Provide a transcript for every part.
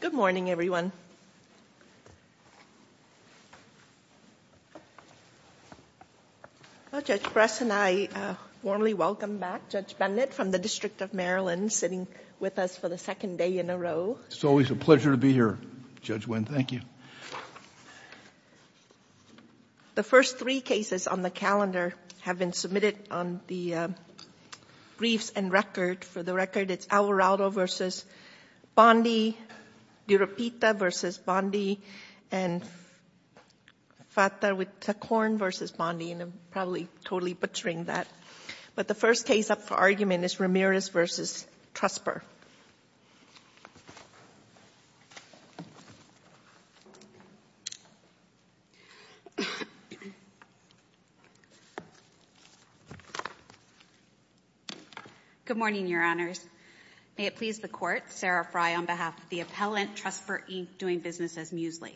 Good morning, everyone. Judge Bress and I warmly welcome back Judge Bennett from the District of Maryland sitting with us for the second day in a row. It's always a pleasure to be here, Judge Wynn. Thank you. The first three cases on the calendar have been submitted on the briefs and record. For the record, it's Alvarado v. Bondi, DiRapita v. Bondi, and Fatah with Taccorn v. Bondi, and I'm probably totally butchering that. But the first case up for argument is Ramirez v. Trusper. Good morning, Your Honors. May it please the Court, Sarah Fry on behalf of the appellant, Trusper Inc., doing business as Muesli.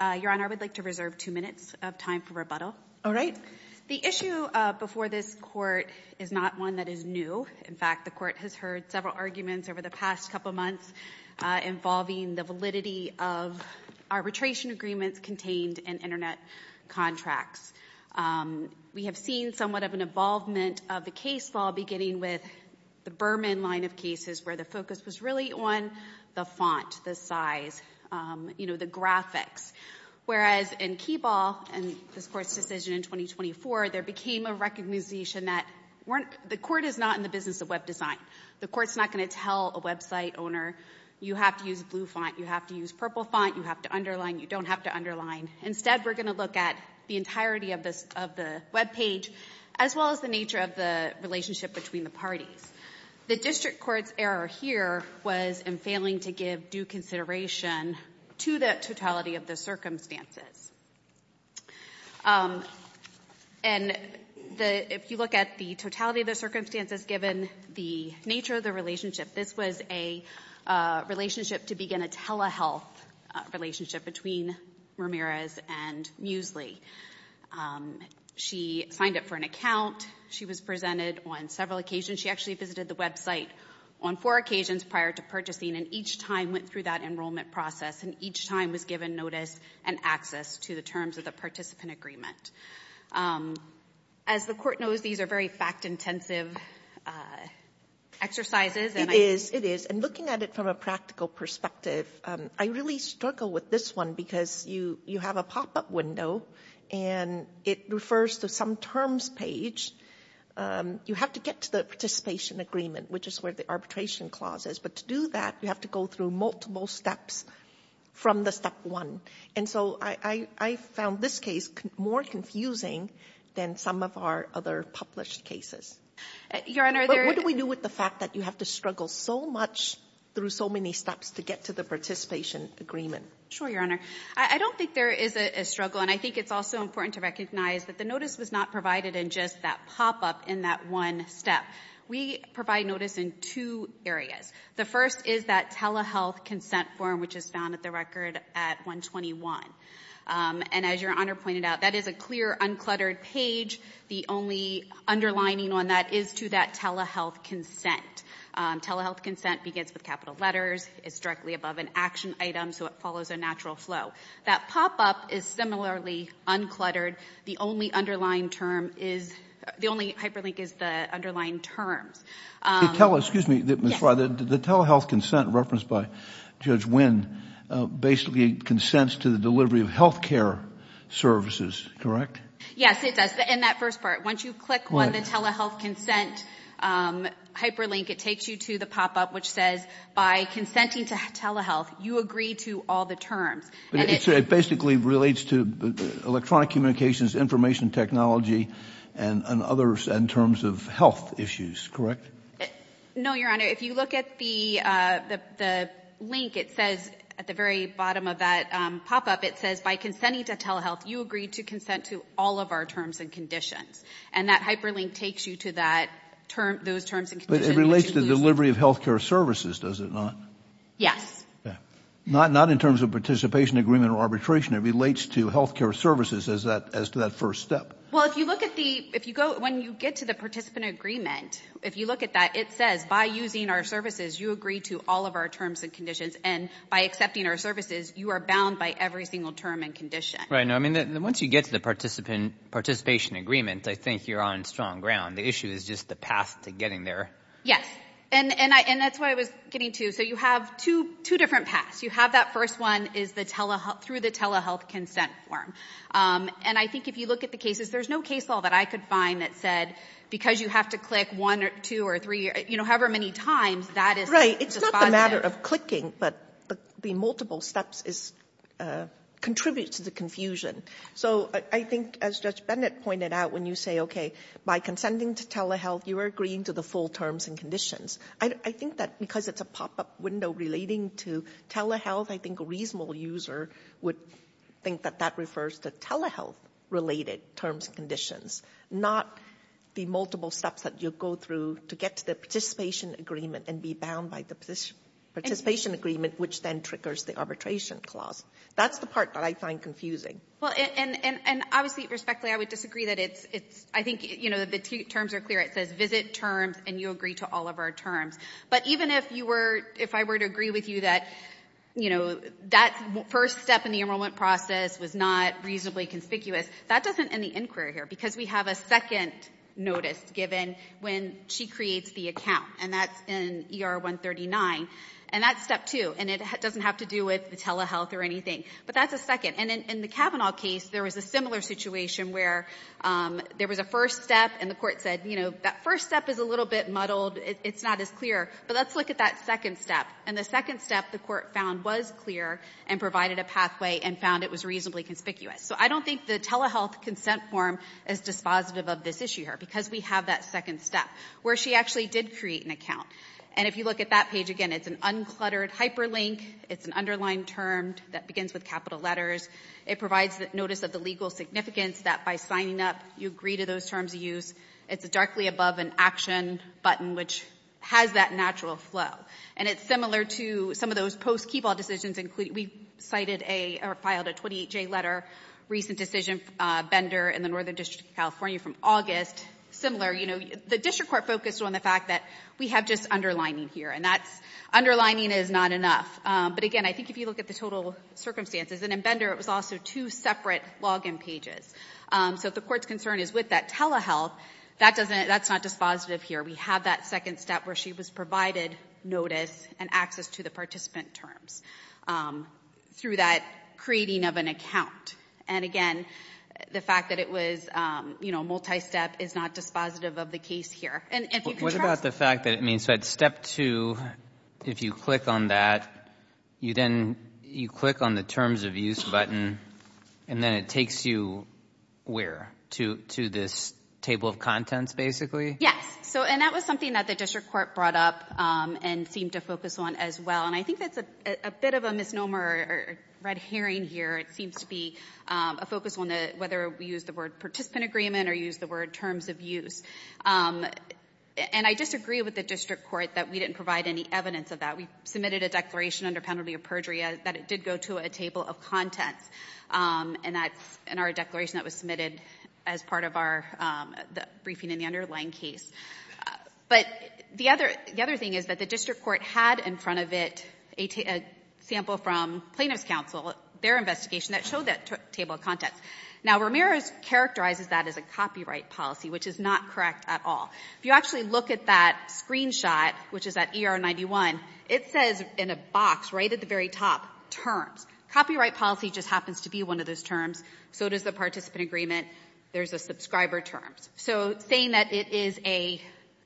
Your Honor, I would like to reserve two minutes of time for rebuttal. All right. The issue before this Court is not one that is new. In fact, the Court has heard several arguments over the past couple months involving the validity of arbitration agreements contained in Internet contracts. We have seen somewhat of an involvement of the case law beginning with the Berman line of cases where the focus was really on the font, the size, you know, the graphics, whereas in Keyball and this Court's decision in 2024, there became a recognition that the Court is not in the business of web design. The Court's not going to tell a website owner, you have to use blue font, you have to use purple font, you have to underline, you don't have to underline. Instead, we're going to look at the entirety of the webpage as well as the nature of the relationship between the parties. The district court's error here was in failing to give due consideration to the totality of the circumstances. And if you look at the totality of the circumstances given the nature of the relationship, this was a relationship to begin a telehealth relationship between Ramirez and Muesli. She signed up for an account. She was presented on several occasions. She actually visited the website on four occasions prior to purchasing and each time went through that enrollment process and each time was given notice and access to the terms of the participant agreement. As the Court knows, these are very fact-intensive exercises and I think... It is, it is. And looking at it from a practical perspective, I really struggle with this one because you have a pop-up window and it refers to some terms page. You have to get to the participation agreement, which is where the arbitration clause is, but to do that, you have to go through multiple steps from the step one. And so I found this case more confusing than some of our other published cases. Your Honor... What do we do with the fact that you have to struggle so much through so many steps to get to the participation agreement? Sure, Your Honor. I don't think there is a struggle and I think it's also important to recognize that the notice was not provided in just that pop-up in that one step. We provide notice in two areas. The first is that telehealth consent form, which is found at the record at 121. And as Your Honor pointed out, that is a clear, uncluttered page. The only underlining on that is to that telehealth consent. Telehealth consent begins with capital letters. It's directly above an action item, so it follows a natural flow. That pop-up is similarly uncluttered. The only underlying term is, the only hyperlink is the underlying terms. Excuse me, Ms. Frey, the telehealth consent referenced by Judge Wynn basically consents to the delivery of health care services, correct? Yes, it does. In that first part, once you click on the telehealth consent hyperlink, it takes you to the pop-up which says, by consenting to telehealth, you agree to all the terms. It basically relates to electronic communications, information technology, and others in terms of health issues, correct? No, Your Honor. If you look at the link, it says, at the very bottom of that pop-up, it says, by consenting to telehealth, you agree to consent to all of our terms and conditions. And that hyperlink takes you to that term, those terms and conditions. But it relates to delivery of health care services, does it not? Yes. Not in terms of participation agreement or arbitration. It relates to health care services as to that first step. Well, if you look at the, if you go, when you get to the participant agreement, if you look at that, it says, by using our services, you agree to all of our terms and conditions. And by accepting our services, you are bound by every single term and condition. Right. No, I mean, once you get to the participant, participation agreement, I think you're on strong ground. The issue is just the path to getting there. Yes. And I, and that's why I was getting to, so you have two, two different paths. You have that first one is the telehealth, through the telehealth consent form. And I think if you look at the cases, there's no case law that I could find that said, because you have to click one or two or three, you know, however many times, that is just positive. Right. It's not the matter of clicking, but the multiple steps is, contributes to the confusion. So I think, as Judge Bennett pointed out, when you say, okay, by consenting to telehealth, you are agreeing to the full terms and conditions. I think that because it's a pop-up window relating to telehealth, I think a reasonable user would think that that refers to telehealth-related terms and conditions, not the multiple steps that you'll go through to get to the participation agreement and be bound by the participation agreement, which then triggers the arbitration clause. That's the part that I find confusing. Well, and, and, and obviously, respectfully, I would disagree that it's, it's, I think, you know, the terms are clear. It says visit terms, and you agree to all of our terms. But even if you were, if I were to agree with you that, you know, that first step in the enrollment process was not reasonably conspicuous, that doesn't end the inquiry here, because we have a second notice given when she creates the account, and that's in ER 139, and that's step two, and it doesn't have to do with telehealth or anything, but that's a second. And in the Kavanaugh case, there was a similar situation where there was a first step, and the court said, you know, that first step is a little bit muddled. It's not as clear. But let's look at that second step. And the second step, the court found was clear and provided a pathway and found it was reasonably conspicuous. So I don't think the telehealth consent form is dispositive of this issue here, because we have that second step, where she actually did create an account. And if you look at that page again, it's an uncluttered hyperlink. It's an underlined term that begins with capital letters. It provides notice of the legal significance, that by signing up, you agree to those terms of use. It's directly above an action button, which has that natural flow. And it's similar to some of those post-Keyball decisions. We cited or filed a 28-J letter, recent decision, Bender in the Northern District of California from August. Similar, you know, the district court focused on the fact that we have just underlining here, and that's, underlining is not enough. But again, I think if you look at the total circumstances, and in Bender, it was also two separate login pages. So if the court's concern is with that telehealth, that doesn't, that's not dispositive here. We have that second step, where she was provided notice and access to the participant terms through that creating of an account. And again, the fact that it was, you know, multi-step is not dispositive of the case here. And if you contrast- You said step two, if you click on that, you then, you click on the terms of use button, and then it takes you where? To this table of contents, basically? Yes. So, and that was something that the district court brought up and seemed to focus on as well. And I think that's a bit of a misnomer or red herring here. It seems to be a focus on the, whether we use the word participant agreement or use the word terms of use. And I disagree with the district court that we didn't provide any evidence of that. We submitted a declaration under penalty of perjury that it did go to a table of contents. And that's in our declaration that was submitted as part of our briefing in the underlying case. But the other thing is that the district court had in front of it a sample from plaintiff's counsel, their investigation that showed that table of contents. Now Ramirez characterizes that as a copyright policy, which is not correct at all. If you actually look at that screenshot, which is at ER 91, it says in a box right at the very top, terms. Copyright policy just happens to be one of those terms. So does the participant agreement. There's a subscriber terms. So saying that it is a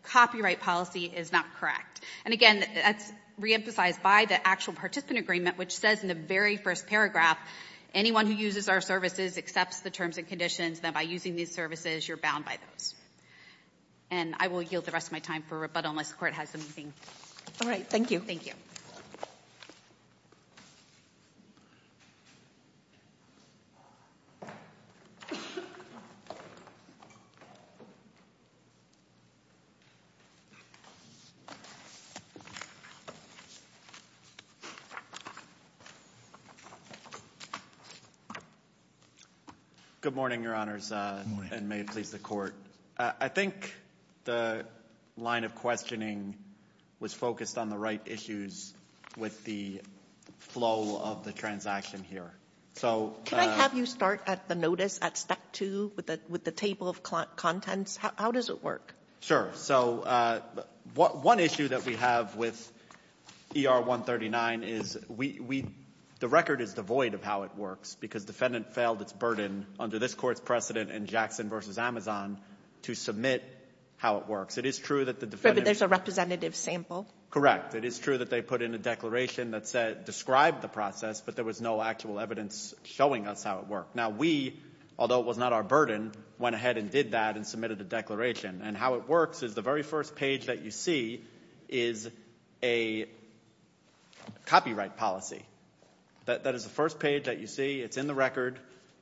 copyright policy is not correct. And again, that's reemphasized by the actual participant agreement, which says in the very first paragraph, anyone who uses our services accepts the terms and conditions that by using these services, you're bound by those. And I will yield the rest of my time for rebuttal unless the Court has anything. All right. Thank you. Thank you. Good morning, Your Honors, and may it please the Court. I think the line of questioning was focused on the right issues with the flow of the transaction here. Can I have you start at the notice at step two with the table of contents? How does it work? Sure. So one issue that we have with ER 139 is the record is devoid of how it works because defendant failed its burden under this Court's precedent in Jackson v. Amazon to submit how it works. It is true that the defendant. But there's a representative sample. Correct. It is true that they put in a declaration that described the process, but there was no actual evidence showing us how it worked. Now we, although it was not our burden, went ahead and did that and submitted a declaration. And how it works is the very first page that you see is a copyright policy. That is the first page that you see. It's in the record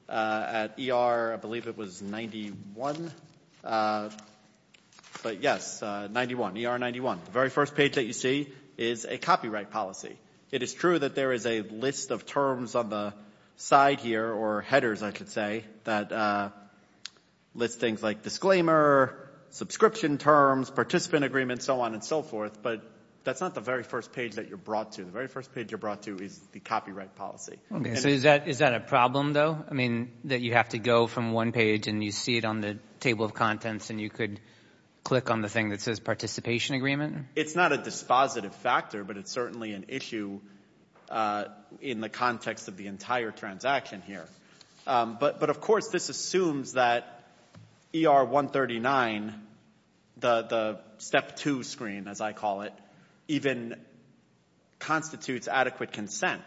at ER, I believe it was 91, but yes, 91, ER 91, the very first page that you see is a copyright policy. It is true that there is a list of terms on the side here or headers, I should say, that list things like disclaimer, subscription terms, participant agreement, so on and so forth. But that's not the very first page that you're brought to. The very first page you're brought to is the copyright policy. Okay. So is that a problem, though? I mean, that you have to go from one page and you see it on the table of contents and you could click on the thing that says participation agreement? It's not a dispositive factor, but it's certainly an issue in the context of the entire transaction here. But of course, this assumes that ER 139, the step two screen, as I call it, even constitutes adequate consent.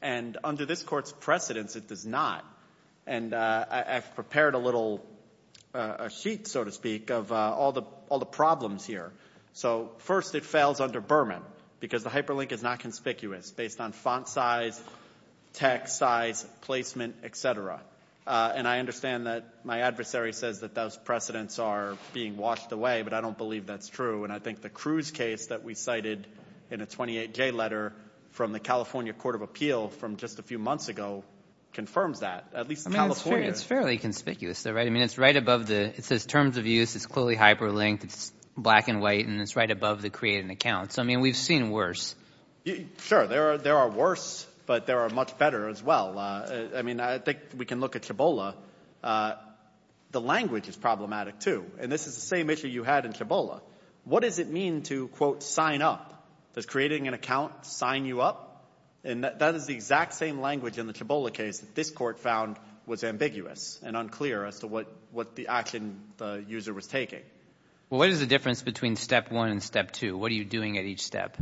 And under this court's precedence, it does not. And I've prepared a little sheet, so to speak, of all the problems here. So first, it fails under Berman because the hyperlink is not conspicuous based on font size, text size, placement, et cetera. And I understand that my adversary says that those precedents are being washed away, but I don't believe that's true. And I think the Cruz case that we cited in a 28-J letter from the California Court of Appeal from just a few months ago confirms that. At least California— I mean, it's fairly conspicuous, though, right? I mean, it's right above the—it says terms of use, it's clearly hyperlinked, it's black and white, and it's right above the create an account. So, I mean, we've seen worse. Sure. There are worse, but there are much better as well. I mean, I think we can look at Chabola. The language is problematic, too, and this is the same issue you had in Chabola. What does it mean to, quote, sign up? Does creating an account sign you up? And that is the exact same language in the Chabola case that this court found was ambiguous and unclear as to what the action the user was taking. Well, what is the difference between step one and step two? What are you doing at each step?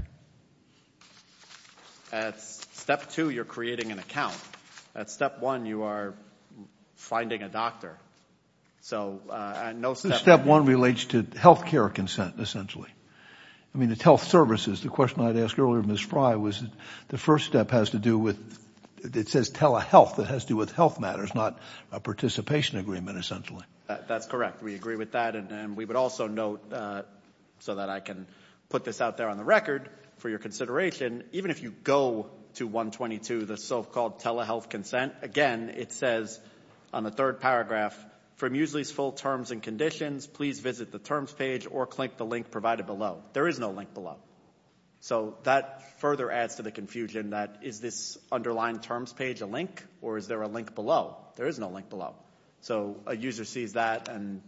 At step two, you're creating an account. At step one, you are finding a doctor. So no step— Step one relates to health care consent, essentially. I mean, it's health services. The question I'd asked earlier, Ms. Frye, was the first step has to do with—it says telehealth. It has to do with health matters, not a participation agreement, essentially. That's correct. We agree with that. And we would also note, so that I can put this out there on the record for your consideration, even if you go to 122, the so-called telehealth consent, again, it says on the third paragraph, from Muesli's full terms and conditions, please visit the terms page or click the link provided below. There is no link below. So that further adds to the confusion that is this underlying terms page a link or is there a link below? There is no link below. So a user sees that and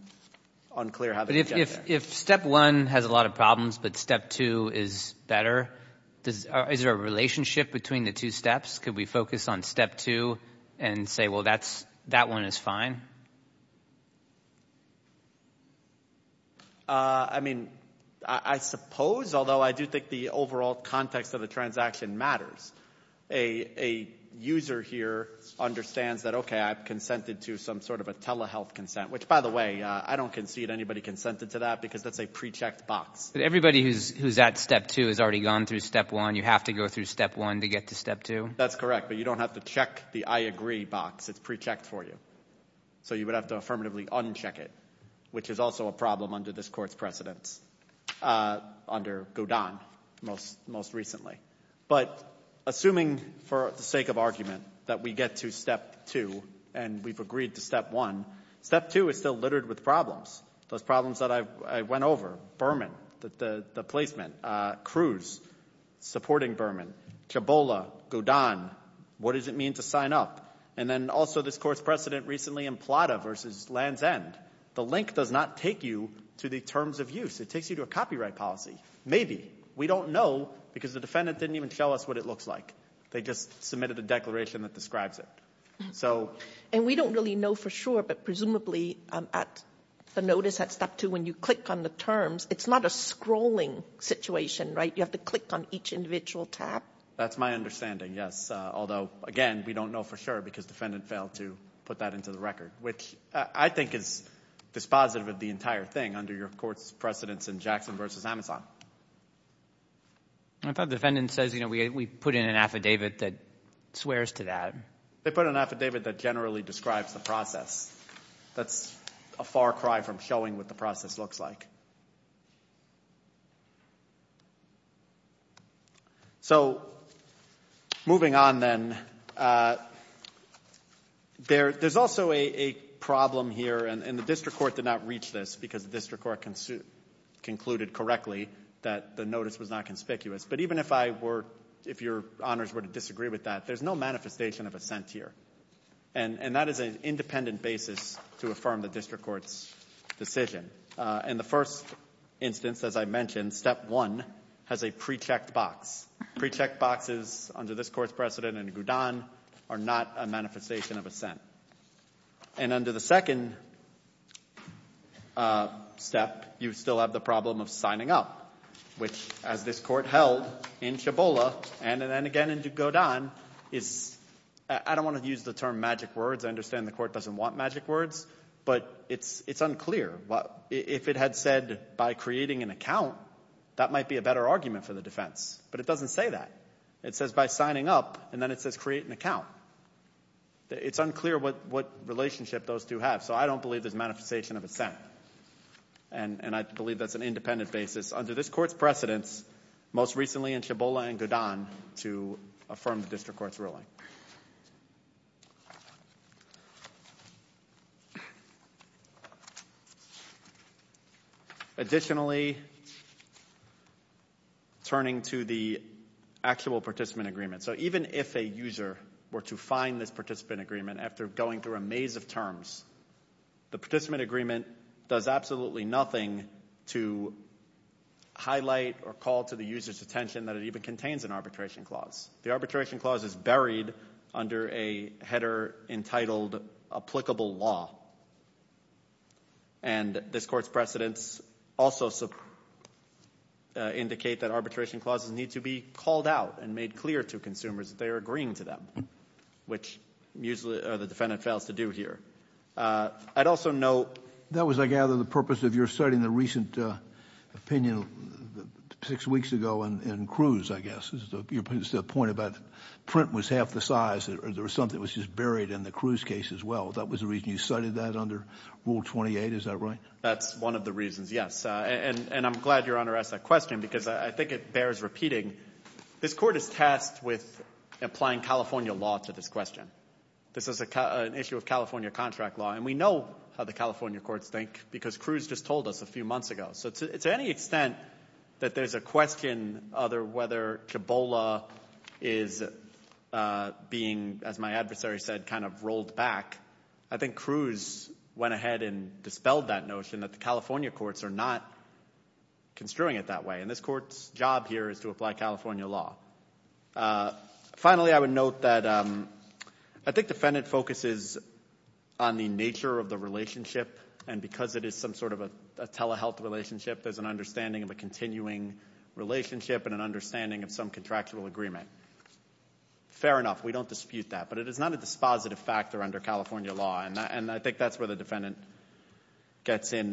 unclear how they can get there. If step one has a lot of problems but step two is better, is there a relationship between the two steps? Could we focus on step two and say, well, that's—that one is fine? I mean, I suppose, although I do think the overall context of the transaction matters, a user here understands that, okay, I've consented to some sort of a telehealth consent, which, by the way, I don't concede anybody consented to that because that's a pre-checked box. But everybody who's at step two has already gone through step one. You have to go through step one to get to step two? That's correct. But you don't have to check the I agree box. It's pre-checked for you. So you would have to affirmatively uncheck it, which is also a problem under this Court's precedence, under Godin, most recently. But assuming for the sake of argument that we get to step two and we've agreed to step one, step two is still littered with problems, those problems that I went over, Berman, the placement, Cruz supporting Berman, Chabola, Godin, what does it mean to sign up? And then also this Court's precedent recently in Plata v. Land's End. The link does not take you to the terms of use. It takes you to a copyright policy, maybe. We don't know because the defendant didn't even show us what it looks like. They just submitted a declaration that describes it. And we don't really know for sure, but presumably at the notice at step two, when you click on the terms, it's not a scrolling situation, right? You have to click on each individual tab. That's my understanding, yes, although, again, we don't know for sure because the defendant failed to put that into the record, which I think is dispositive of the entire thing under your Court's precedents in Jackson v. Amazon. I thought the defendant says, you know, we put in an affidavit that swears to that. They put an affidavit that generally describes the process. That's a far cry from showing what the process looks like. So moving on then, there's also a problem here, and the District Court did not reach this because the District Court concluded correctly that the notice was not conspicuous. But even if I were, if your honors were to disagree with that, there's no manifestation of assent here. And that is an independent basis to affirm the District Court's decision. In the first instance, as I mentioned, step one has a pre-checked box. Pre-checked boxes under this Court's precedent in Gudon are not a manifestation of assent. And under the second step, you still have the problem of signing up, which as this Court held in Chabola and then again in Gudon is, I don't want to use the term magic words. I understand the Court doesn't want magic words, but it's unclear. If it had said by creating an account, that might be a better argument for the defense, but it doesn't say that. It says by signing up, and then it says create an account. It's unclear what relationship those two have. So I don't believe there's a manifestation of assent, and I believe that's an independent basis under this Court's precedents, most recently in Chabola and Gudon, to affirm the District Court's ruling. Additionally, turning to the actual participant agreement. So even if a user were to find this participant agreement after going through a maze of terms, the participant agreement does absolutely nothing to highlight or call to the user's attention that it even contains an arbitration clause. The arbitration clause is buried under a header entitled applicable law. And this Court's precedents also indicate that arbitration clauses need to be called out and made clear to consumers that they are agreeing to them, which usually the defendant fails to do here. I'd also note— That was, I gather, the purpose of your study in the recent opinion six weeks ago in Cruz, I guess. Your point about print was half the size, or there was something that was just buried in the Cruz case as well. That was the reason you studied that under Rule 28, is that right? That's one of the reasons, yes. And I'm glad Your Honor asked that question because I think it bears repeating. This Court is tasked with applying California law to this question. This is an issue of California contract law, and we know how the California courts think because Cruz just told us a few months ago. So to any extent that there's a question of whether CHEBOLA is being, as my adversary said, kind of rolled back, I think Cruz went ahead and dispelled that notion that the California courts are not construing it that way, and this Court's job here is to apply California law. Finally, I would note that I think defendant focuses on the nature of the relationship, and because it is some sort of a telehealth relationship, there's an understanding of a continuing relationship and an understanding of some contractual agreement. Fair enough. We don't dispute that, but it is not a dispositive factor under California law, and I think that's where the defendant gets in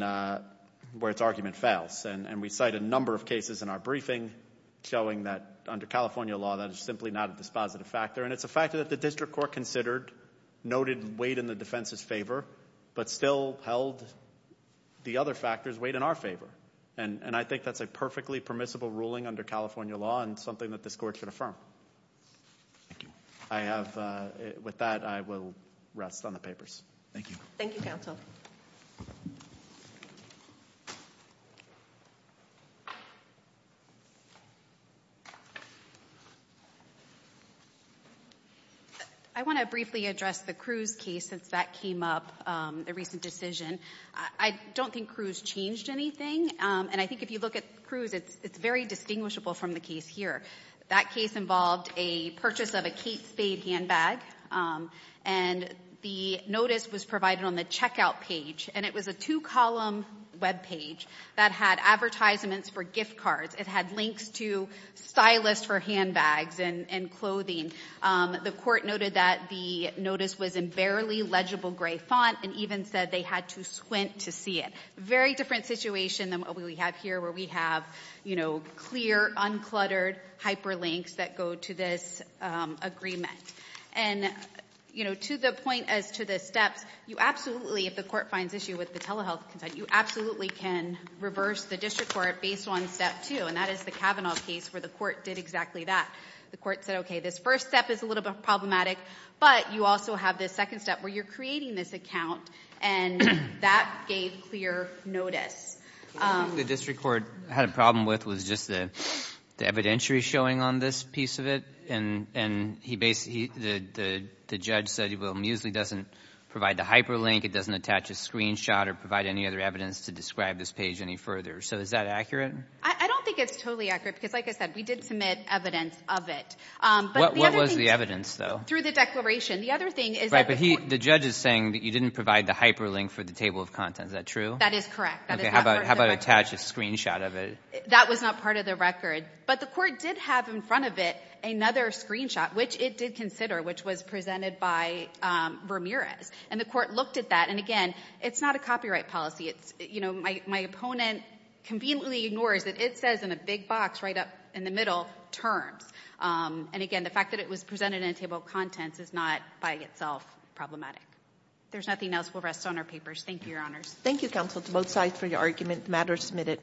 where its argument fails, and we cite a number of cases in our briefing showing that under California law that is simply not a dispositive factor, and it's a factor that the District Court considered, noted weighed in the defense's favor, but still held the other factors weighed in our favor, and I think that's a perfectly permissible ruling under California law and something that this Court should affirm. With that, I will rest on the papers. Thank you. Thank you, Counsel. I want to briefly address the Cruz case since that came up, the recent decision. I don't think Cruz changed anything, and I think if you look at Cruz, it's very distinguishable from the case here. That case involved a purchase of a Kate Spade handbag, and the notice was provided on the checkout page, and it was a two-column webpage that had advertisements for gift cards. It had links to stylists for handbags and clothing. The Court noted that the notice was in barely legible gray font and even said they had to squint to see it. Very different situation than what we have here where we have clear, uncluttered hyperlinks that go to this agreement. To the point as to the steps, you absolutely, if the Court finds issue with the telehealth consent, you absolutely can reverse the District Court based on step two, and that is the Kavanaugh case where the Court did exactly that. The Court said, okay, this first step is a little bit problematic, but you also have this second step where you're creating this account, and that gave clear notice. The District Court had a problem with was just the evidentiary showing on this piece of it, and the judge said, well, Muesli doesn't provide the hyperlink, it doesn't attach a screenshot or provide any other evidence to describe this page any further. So is that accurate? I don't think it's totally accurate, because like I said, we did submit evidence of it. What was the evidence, though? Through the declaration. The other thing is that the Court – Right, but the judge is saying that you didn't provide the hyperlink for the table of contents. Is that true? That is correct. How about attach a screenshot of it? That was not part of the record. But the Court did have in front of it another screenshot, which it did consider, which was presented by Ramirez, and the Court looked at that, and again, it's not a copyright policy. It's, you know, my opponent conveniently ignores that it says in a big box right up in the middle, terms. And again, the fact that it was presented in a table of contents is not by itself problematic. If there's nothing else, we'll rest on our papers. Thank you, Your Honors. Thank you, counsel, to both sides for your argument. The matter is submitted.